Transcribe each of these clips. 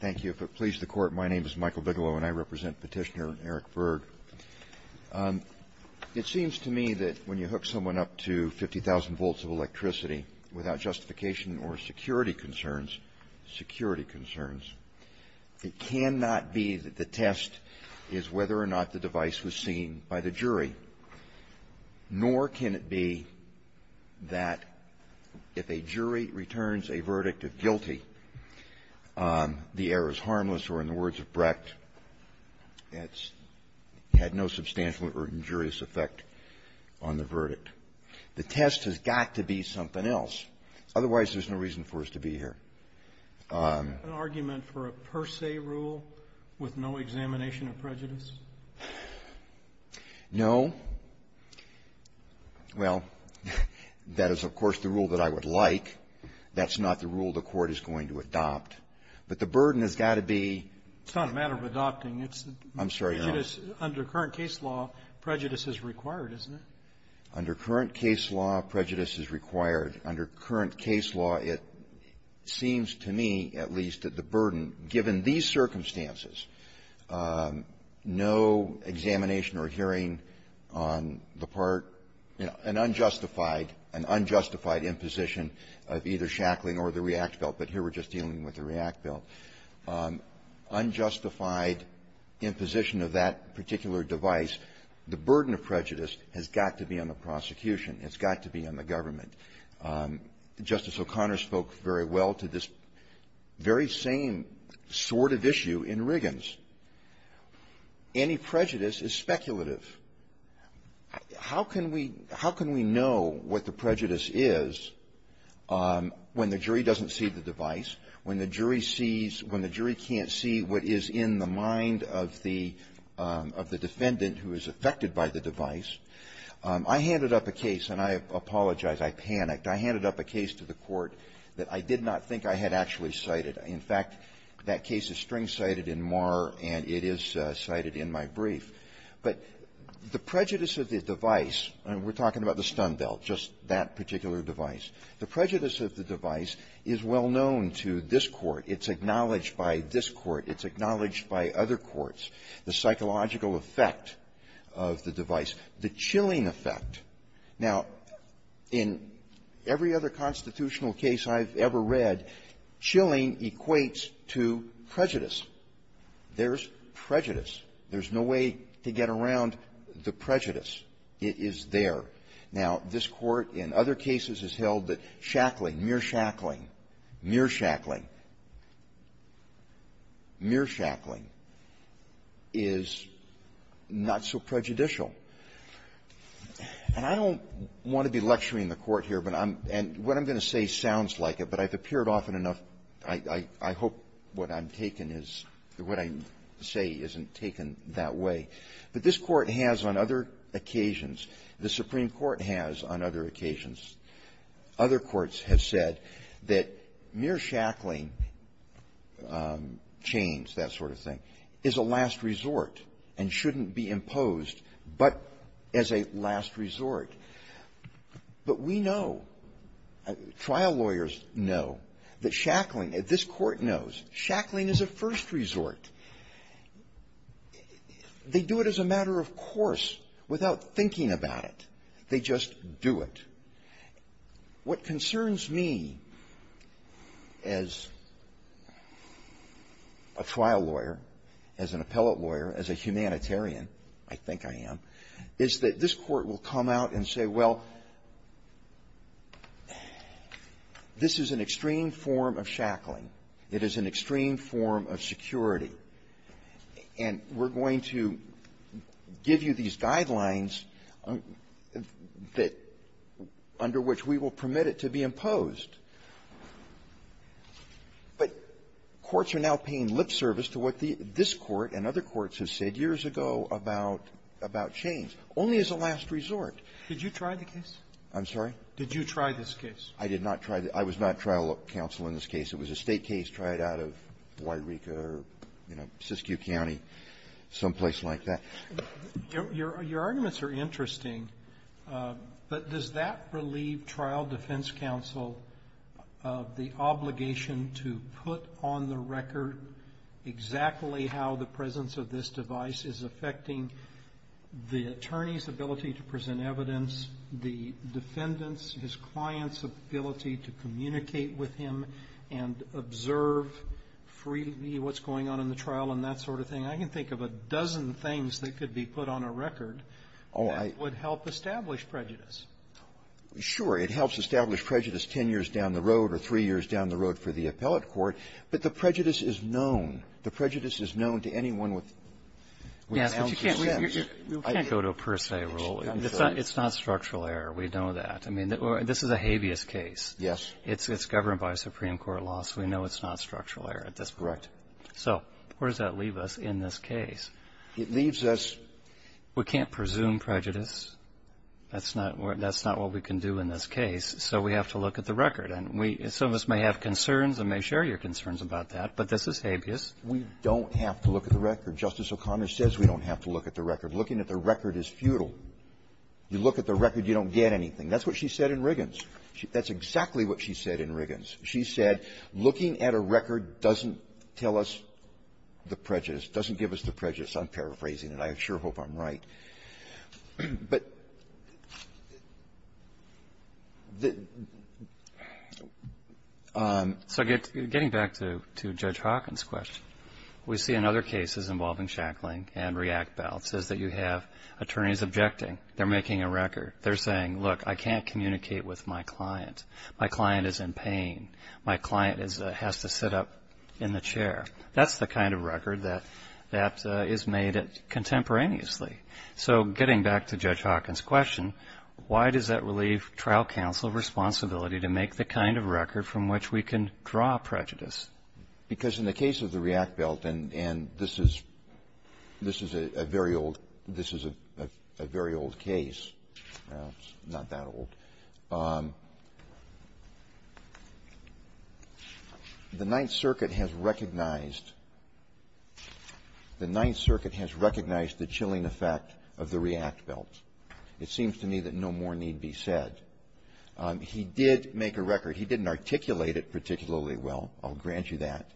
Thank you. If it pleases the Court, my name is Michael Bigelow, and I represent Petitioner Eric Berg. It seems to me that when you hook someone up to 50,000 volts of electricity without justification or security concerns, security concerns, it cannot be that the test is whether or not the device was seen by the jury, nor can it be that if a jury returns a verdict of guilty, the error is harmless, or in the words of Brecht, it's had no substantial or injurious effect on the verdict. The test has got to be something else. Otherwise, there's no reason for us to be here. An argument for a per se rule with no examination of prejudice? No. Well, that is, of course, the rule that I would like. That's not the rule the Court is going to adopt. But the burden has got to be ---- It's not a matter of adopting. I'm sorry. Under current case law, prejudice is required, isn't it? Under current case law, prejudice is required. Under current case law, it seems to me, at least, that the burden, given these circumstances, no examination or hearing on the part, you know, an unjustified, an unjustified imposition of either Shackling or the React Belt, but here we're just dealing with the React Belt. Unjustified imposition of that particular device, the burden of prejudice has got to be on the prosecution. It's got to be on the government. Justice O'Connor spoke very well to this very same sort of issue in Riggins. Any prejudice is speculative. How can we know what the prejudice is when the jury doesn't see the device, when the jury sees, when the jury can't see what is in the mind of the defendant who is affected by the device? I handed up a case, and I apologize, I panicked. I handed up a case to the Court that I did not think I had actually cited. In fact, that case is string-cited in Marr, and it is cited in my brief. But the prejudice of the device, and we're talking about the Stun Belt, just that particular device. The prejudice of the device is well known to this Court. It's acknowledged by this Court. It's acknowledged by other courts. The psychological effect of the device, the chilling effect. Now, in every other constitutional case I've ever read, chilling equates to prejudice. There's prejudice. There's no way to get around the prejudice. It is there. Now, this Court in other cases has held that shackling, mere shackling, mere shackling, mere shackling is not so prejudicial. And I don't want to be lecturing the Court here, but I'm — and what I'm going to say sounds like it, but I've appeared often enough. I hope what I'm taking is — what I say isn't taken that way. But this Court has on other occasions, the Supreme Court has on other occasions, other courts have said that mere shackling, chains, that sort of thing, is a last resort and shouldn't be imposed but as a last resort. But we know, trial lawyers know, that shackling, this Court knows, shackling is a first resort. They do it as a matter of course, without thinking about it. They just do it. What concerns me as a trial lawyer, as an appellate lawyer, as a humanitarian I think I am, is that this Court will come out and say, well, this is an extreme form of shackling. It is an extreme form of security. And we're going to give you these guidelines that — under which we will permit it to be imposed. But courts are now paying lip service to what this Court and other courts have said years ago about — about chains, only as a last resort. Roberts. Did you try the case? Carvin. I'm sorry? Roberts. Did you try this case? Carvin. I did not try the — I was not trial counsel in this case. It was a State case tried out of Guairica or, you know, Siskiyou County, someplace like that. Roberts. Your — your arguments are interesting. But does that relieve trial defense counsel of the obligation to put on the record exactly how the presence of this device is affecting the attorney's ability to present evidence, the defendant's, his client's ability to communicate with him and observe freely what's going on in the trial and that sort of thing? I can think of a dozen things that could be put on a record that would help establish prejudice. Carvin. Sure. It helps establish prejudice 10 years down the road or three years down the road for the appellate court. But the prejudice is known. The prejudice is known to anyone with an ounce of sense. Roberts. Yes, but you can't — you can't go to a per se rule. It's not structural error. We know that. I mean, this is a habeas case. Carvin. Yes. It's governed by a Supreme Court law, so we know it's not structural error at this point. Carvin. Correct. Roberts. So where does that leave us in this case? Carvin. It leaves us — Roberts. We can't presume prejudice. That's not — that's not what we can do in this case. So we have to look at the record. And we — some of us may have concerns and may share your concerns about that. But this is habeas. Carvin. We don't have to look at the record. Justice O'Connor says we don't have to look at the record. Looking at the record is futile. You look at the record, you don't get anything. That's what she said in Riggins. That's exactly what she said in Riggins. She said, looking at a record doesn't tell us the prejudice, doesn't give us the prejudice. I'm paraphrasing it. I sure hope I'm right. But the — Roberts. So getting back to Judge Hawkins' question, we see in other cases involving Shackling and React bail, it says that you have attorneys objecting. They're making a record. They're saying, look, I can't communicate with my client. My client is in pain. My client has to sit up in the chair. That's the kind of record that is made contemporaneously. So getting back to Judge Hawkins' question, why does that relieve trial counsel responsibility to make the kind of record from which we can draw prejudice? Because in the case of the React bail, and this is a very old case, not that old, the Ninth Circuit has recognized the chilling effect of the React bail. It seems to me that no more need be said. He did make a record. He didn't articulate it particularly well. I'll grant you that.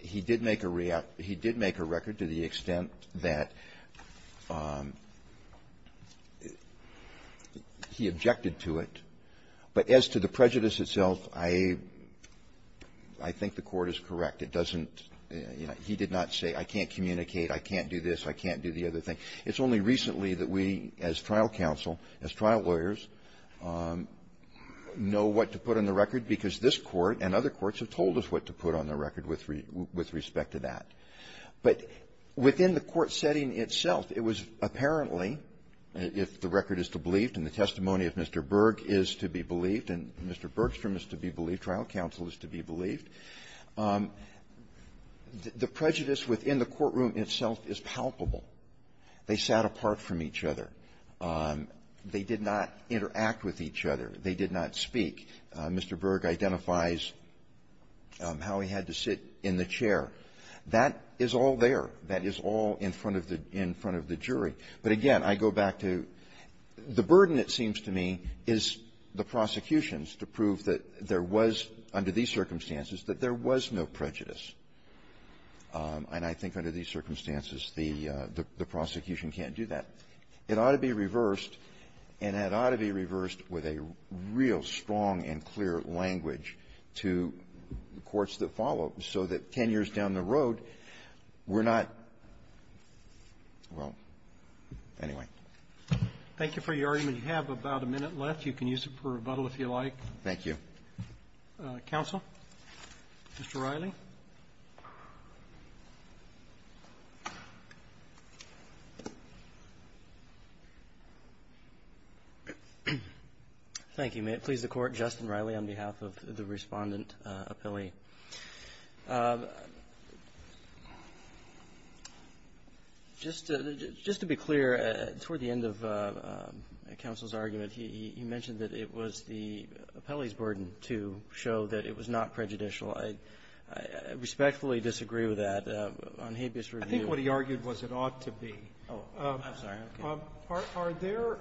He did make a React — he did make a record to the extent that he objected to it. But as to the prejudice itself, I — I think the Court is correct. It doesn't — he did not say, I can't communicate, I can't do this, I can't do the other thing. It's only recently that we, as trial counsel, as trial lawyers, know what to put on the record. Because this Court and other courts have told us what to put on the record with — with respect to that. But within the court setting itself, it was apparently, if the record is to believe and the testimony of Mr. Berg is to be believed and Mr. Bergstrom is to be believed, trial counsel is to be believed, the prejudice within the courtroom itself is palpable. They sat apart from each other. They did not interact with each other. They did not speak. Mr. Berg identifies how he had to sit in the chair. That is all there. That is all in front of the — in front of the jury. But again, I go back to the burden, it seems to me, is the prosecution's to prove that there was, under these circumstances, that there was no prejudice. And I think under these circumstances, the — the prosecution can't do that. It ought to be reversed, and it ought to be reversed with a real strong and clear language to courts that follow, so that 10 years down the road, we're not — well, anyway. Thank you for your argument. You have about a minute left. You can use it for rebuttal if you like. Thank you. Counsel, Mr. Reilly. Thank you. May it please the Court, Justin Reilly, on behalf of the Respondent Appellee. Just to be clear, toward the end of counsel's argument, he mentioned that it was the appellee's burden to show that it was not prejudicial. I respectfully disagree with that on habeas review. I think what he argued was it ought to be. Oh, I'm sorry. Are there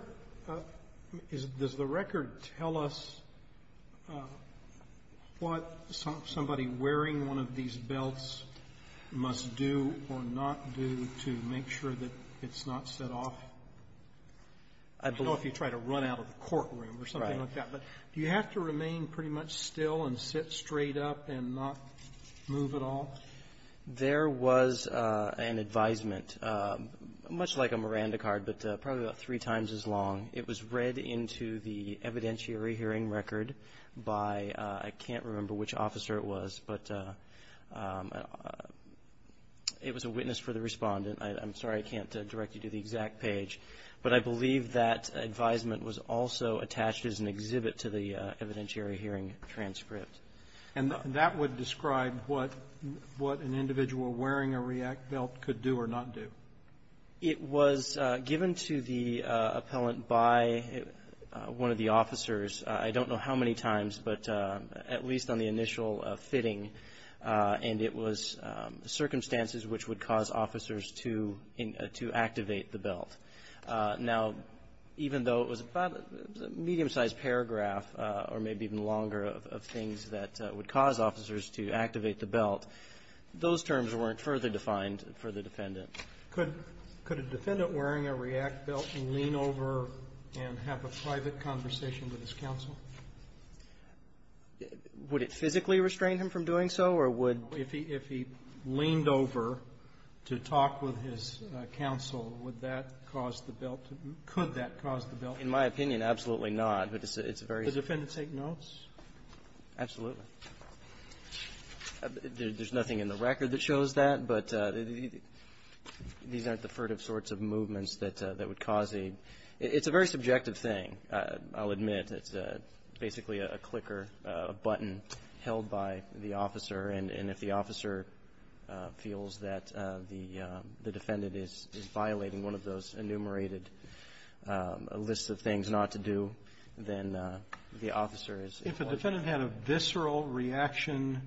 — does the record tell us what somebody wearing one of these belts must do or not do to make sure that it's not set off? I don't know if you try to run out of the courtroom or something like that. Right. But do you have to remain pretty much still and sit straight up and not move at all? There was an advisement, much like a Miranda card, but probably about three times as long. It was read into the evidentiary hearing record by — I can't remember which officer it was, but it was a witness for the Respondent. I'm sorry I can't direct you to the exact page. But I believe that advisement was also attached as an exhibit to the evidentiary hearing transcript. And that would describe what an individual wearing a REACT belt could do or not do? It was given to the appellant by one of the officers. I don't know how many times, but at least on the initial fitting. And it was circumstances which would cause officers to activate the belt. Now, even though it was about a medium-sized paragraph or maybe even longer of things that would cause officers to activate the belt, those terms weren't further defined for the Defendant. Could a Defendant wearing a REACT belt lean over and have a private conversation with his counsel? Would it physically restrain him from doing so, or would — if he — if he leaned over to talk with his counsel, would that cause the belt to — could that cause the belt — In my opinion, absolutely not. But it's a very — Does the Defendant take notes? Absolutely. There's nothing in the record that shows that, but these aren't the furtive sorts of movements that would cause a — it's a very subjective thing, I'll admit. It's basically a clicker, a button held by the officer. And if the officer feels that the Defendant is violating one of those enumerated lists of things not to do, then the officer is — If a Defendant had a visceral reaction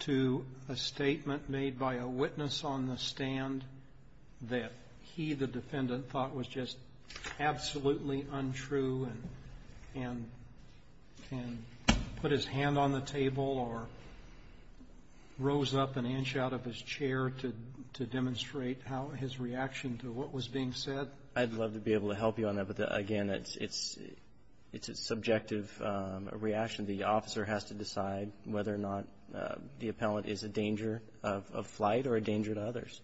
to a statement made by a witness on the stand that he, the Defendant, thought was just absolutely untrue and put his hand on the table or rose up an inch out of his chair to demonstrate how — his reaction to what was being said? I'd love to be able to help you on that, but again, it's a subjective reaction. The officer has to decide whether or not the Appellant is a danger of flight or a danger to others.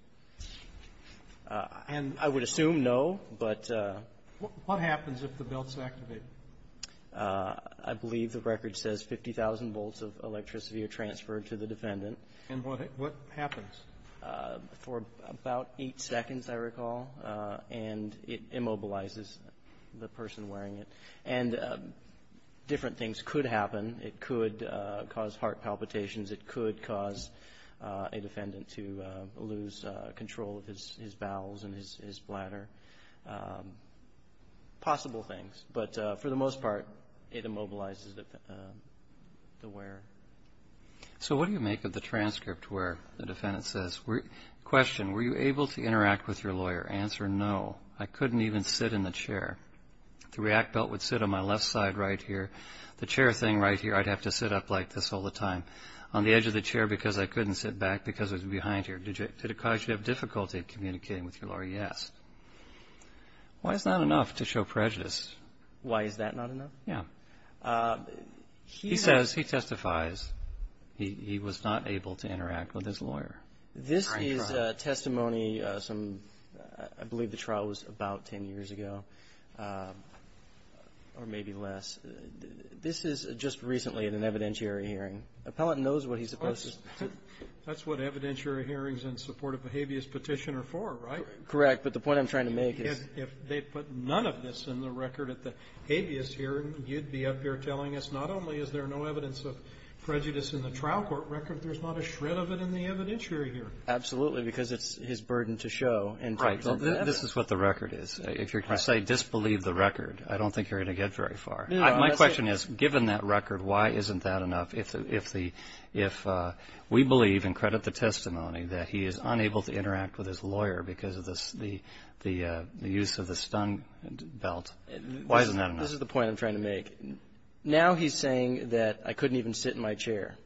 And — I would assume no, but — What happens if the belt's activated? I believe the record says 50,000 volts of electricity are transferred to the Defendant. And what happens? For about eight seconds, I recall, and it immobilizes the person wearing it. And different things could happen. It could cause heart palpitations. It could cause a Defendant to lose control of his bowels and his bladder. Possible things. But for the most part, it immobilizes the wearer. So what do you make of the transcript where the Defendant says, question, were you able to interact with your lawyer? Answer, no. I couldn't even sit in the chair. The React belt would sit on my left side right here. The chair thing right here, I'd have to sit up like this all the time. On the edge of the chair because I couldn't sit back because it was behind here. Did it cause you to have difficulty communicating with your lawyer? Answer, yes. Why is that not enough to show prejudice? Why is that not enough? Yeah. He says, he testifies, he was not able to interact with his lawyer. This is testimony, I believe the trial was about 10 years ago or maybe less. This is just recently in an evidentiary hearing. Appellant knows what he's supposed to say. That's what evidentiary hearings in support of a habeas petition are for, right? Correct. But the point I'm trying to make is. If they put none of this in the record at the habeas hearing, you'd be up here telling us not only is there no evidence of prejudice in the trial court record, there's not a shred of it in the evidentiary hearing. Absolutely. Because it's his burden to show in terms of evidence. Right. This is what the record is. If you're going to say disbelieve the record, I don't think you're going to get very far. My question is, given that record, why isn't that enough if we believe and credit the testimony that he is unable to interact with his lawyer because of the use of the stung belt? Why isn't that enough? This is the point I'm trying to make. Now he's saying that I couldn't even sit in my chair.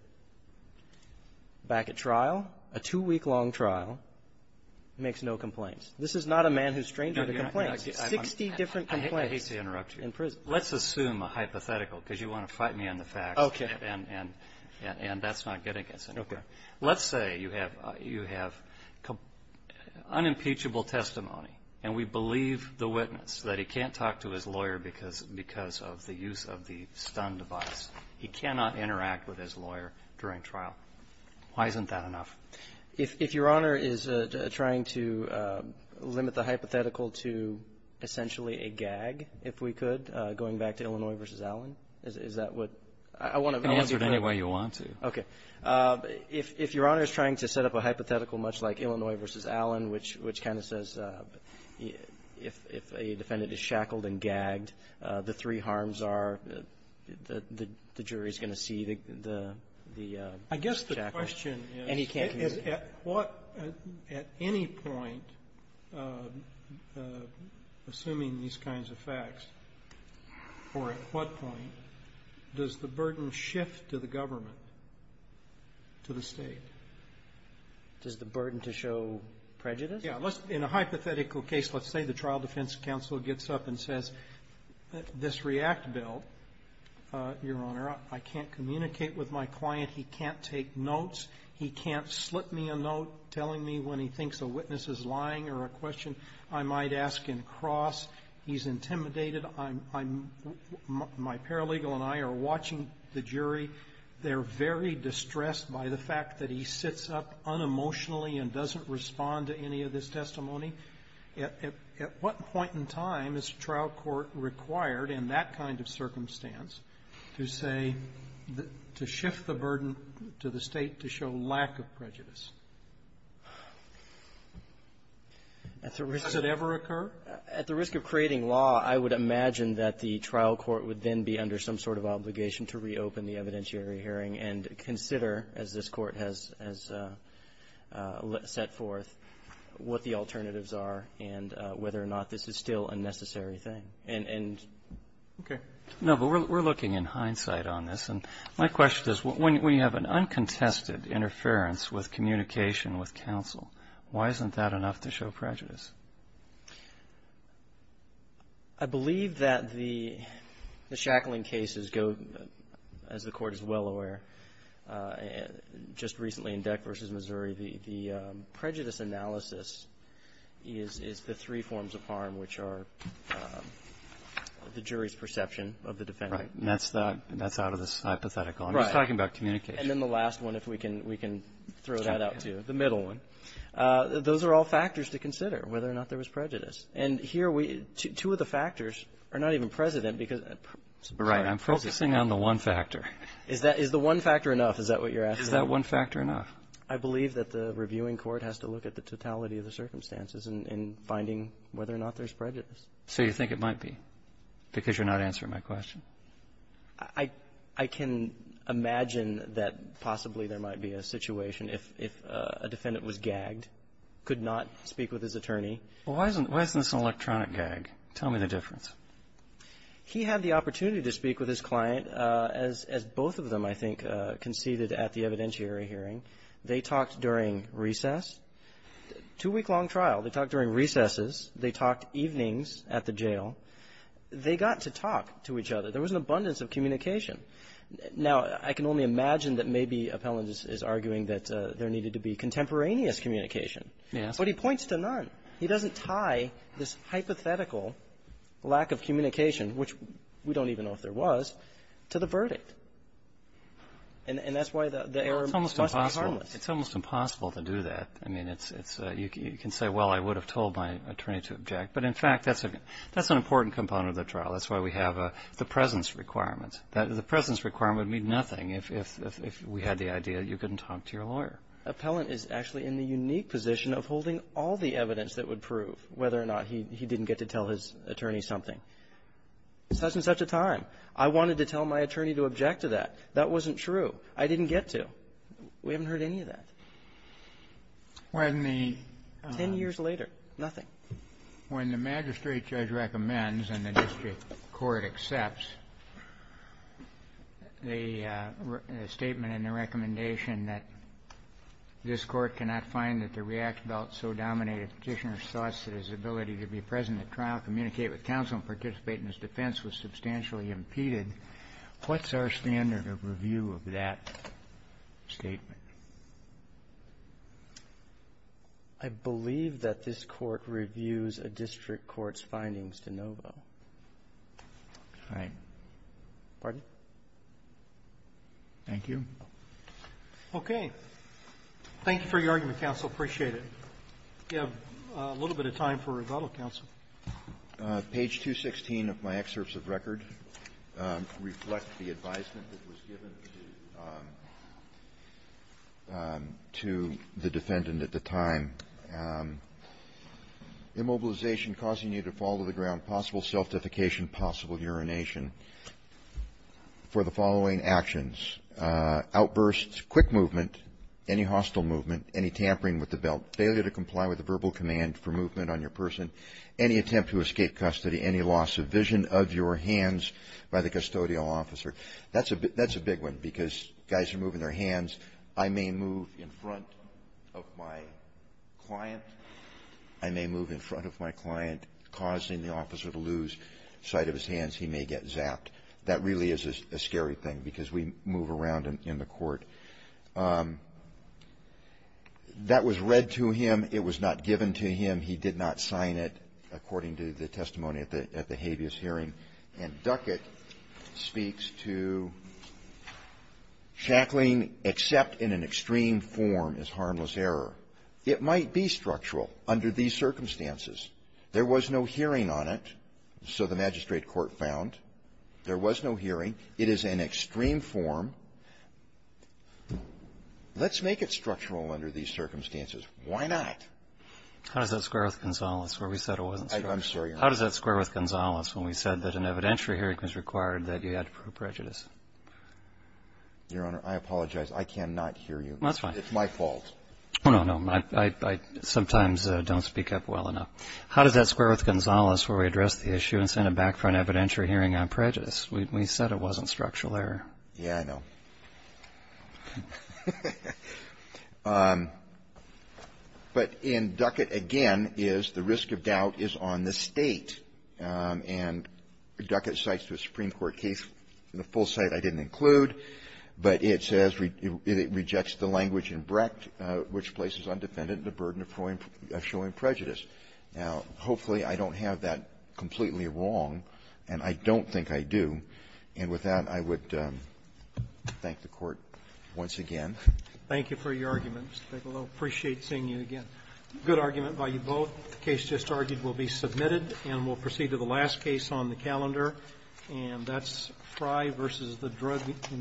Back at trial, a two-week-long trial, makes no complaints. This is not a man who's stranger to complaints. Sixty different complaints. I hate to interrupt you. In prison. Let's assume a hypothetical because you want to fight me on the facts. Okay. And that's not getting us anywhere. Okay. Let's say you have unimpeachable testimony and we believe the witness that he can't talk to his lawyer because of the use of the stun device. He cannot interact with his lawyer during trial. Why isn't that enough? If Your Honor is trying to limit the hypothetical to essentially a gag, if we could, going back to Illinois v. Allen, is that what I want to do? You can answer it any way you want to. Okay. If Your Honor is trying to set up a hypothetical much like Illinois v. Allen, which kind of says if a defendant is shackled and gagged, the three harms are the jury is going to see the shackle. I guess the question is at what any point, assuming these kinds of facts, or at what point does the burden shift to the government, to the State? Does the burden to show prejudice? Yes. In a hypothetical case, let's say the trial defense counsel gets up and says, this REACT bill, Your Honor, I can't communicate with my client. He can't take notes. He can't slip me a note telling me when he thinks a witness is lying or a question I might ask in cross. He's intimidated. I'm my paralegal and I are watching the jury. They're very distressed by the fact that he sits up unemotionally and doesn't respond to any of this testimony. At what point in time is trial court required in that kind of circumstance to say, to shift the burden to the State to show lack of prejudice? Does it ever occur? At the risk of creating law, I would imagine that the trial court would then be under some sort of obligation to reopen the evidentiary hearing and consider, as this Court has set forth, what the alternatives are and whether or not this is still a necessary thing. And okay. No, but we're looking in hindsight on this. And my question is, when you have an uncontested interference with communication with counsel, why isn't that enough to show prejudice? I believe that the shackling cases go, as the Court is well aware, just recently in Deck v. Missouri, the prejudice analysis is the three forms of harm, which are the jury's perception of the defendant. Right. And that's out of this hypothetical. Right. I'm just talking about communication. And then the last one, if we can throw that out to you, the middle one, those are all factors to consider, whether or not there was prejudice. And here we – two of the factors are not even precedent because – Right. I'm focusing on the one factor. Is that – is the one factor enough? Is that what you're asking? Is that one factor enough? I believe that the reviewing court has to look at the totality of the circumstances in finding whether or not there's prejudice. So you think it might be because you're not answering my question? Well, I can imagine that possibly there might be a situation if a defendant was gagged, could not speak with his attorney. Well, why isn't this an electronic gag? Tell me the difference. He had the opportunity to speak with his client, as both of them, I think, conceded at the evidentiary hearing. They talked during recess. Two-week-long trial. They talked during recesses. They talked evenings at the jail. They got to talk to each other. There was an abundance of communication. Now, I can only imagine that maybe Appellant is arguing that there needed to be contemporaneous communication. Yes. But he points to none. He doesn't tie this hypothetical lack of communication, which we don't even know if there was, to the verdict. And that's why the error must be harmless. Well, it's almost impossible. It's almost impossible to do that. I mean, it's – you can say, well, I would have told my attorney to object. But, in fact, that's an important component of the trial. That's why we have the presence requirement. The presence requirement would mean nothing if we had the idea that you couldn't talk to your lawyer. Appellant is actually in the unique position of holding all the evidence that would prove whether or not he didn't get to tell his attorney something. It's such and such a time. I wanted to tell my attorney to object to that. That wasn't true. I didn't get to. We haven't heard any of that. When the – Ten years later, nothing. When the magistrate judge recommends and the district court accepts the statement and the recommendation that this court cannot find that the react about so dominated Petitioner's thoughts that his ability to be present at trial, communicate with counsel, and participate in his defense was substantially impeded, what's our standard of review of that statement? I believe that this court reviews a district court's findings de novo. All right. Pardon? Thank you. Okay. Thank you for your argument, counsel. We have a little bit of time for rebuttal, counsel. Page 216 of my excerpts of record reflect the advisement that was given to the defendant at the time. Immobilization causing you to fall to the ground, possible self-defecation, possible urination for the following actions. Outbursts, quick movement, any hostile movement, any tampering with the belt, failure to comply with the verbal command for movement on your person, any attempt to escape custody, any loss of vision of your hands by the custodial officer. That's a big one because guys are moving their hands. I may move in front of my client. I may move in front of my client, causing the officer to lose sight of his hands. He may get zapped. That really is a scary thing because we move around in the court. That was read to him. It was not given to him. He did not sign it according to the testimony at the habeas hearing. And Duckett speaks to shackling except in an extreme form is harmless error. It might be structural under these circumstances. There was no hearing on it, so the magistrate court found. There was no hearing. It is an extreme form. Let's make it structural under these circumstances. Why not? How does that square with Gonzales where we said it wasn't structural? I'm sorry, Your Honor. How does that square with Gonzales when we said that an evidentiary hearing was required that you had to prove prejudice? Your Honor, I apologize. I cannot hear you. That's fine. It's my fault. No, no. I sometimes don't speak up well enough. How does that square with Gonzales where we addressed the issue and sent it back for an evidentiary hearing on prejudice? We said it wasn't structural error. Yeah, I know. But in Duckett, again, is the risk of doubt is on the State. And Duckett cites the Supreme Court case in the full site I didn't include, but it says it rejects the language in Brecht which places undefended the burden of showing prejudice. Now, hopefully, I don't have that completely wrong, and I don't think I do. And with that, I would thank the Court once again. Thank you for your argument, Mr. Bigelow. I appreciate seeing you again. Good argument by you both. The case just argued will be submitted, and we'll proceed to the last case on the calendar, and that's Fry v. the Drug Enforcement Administration. Thank you.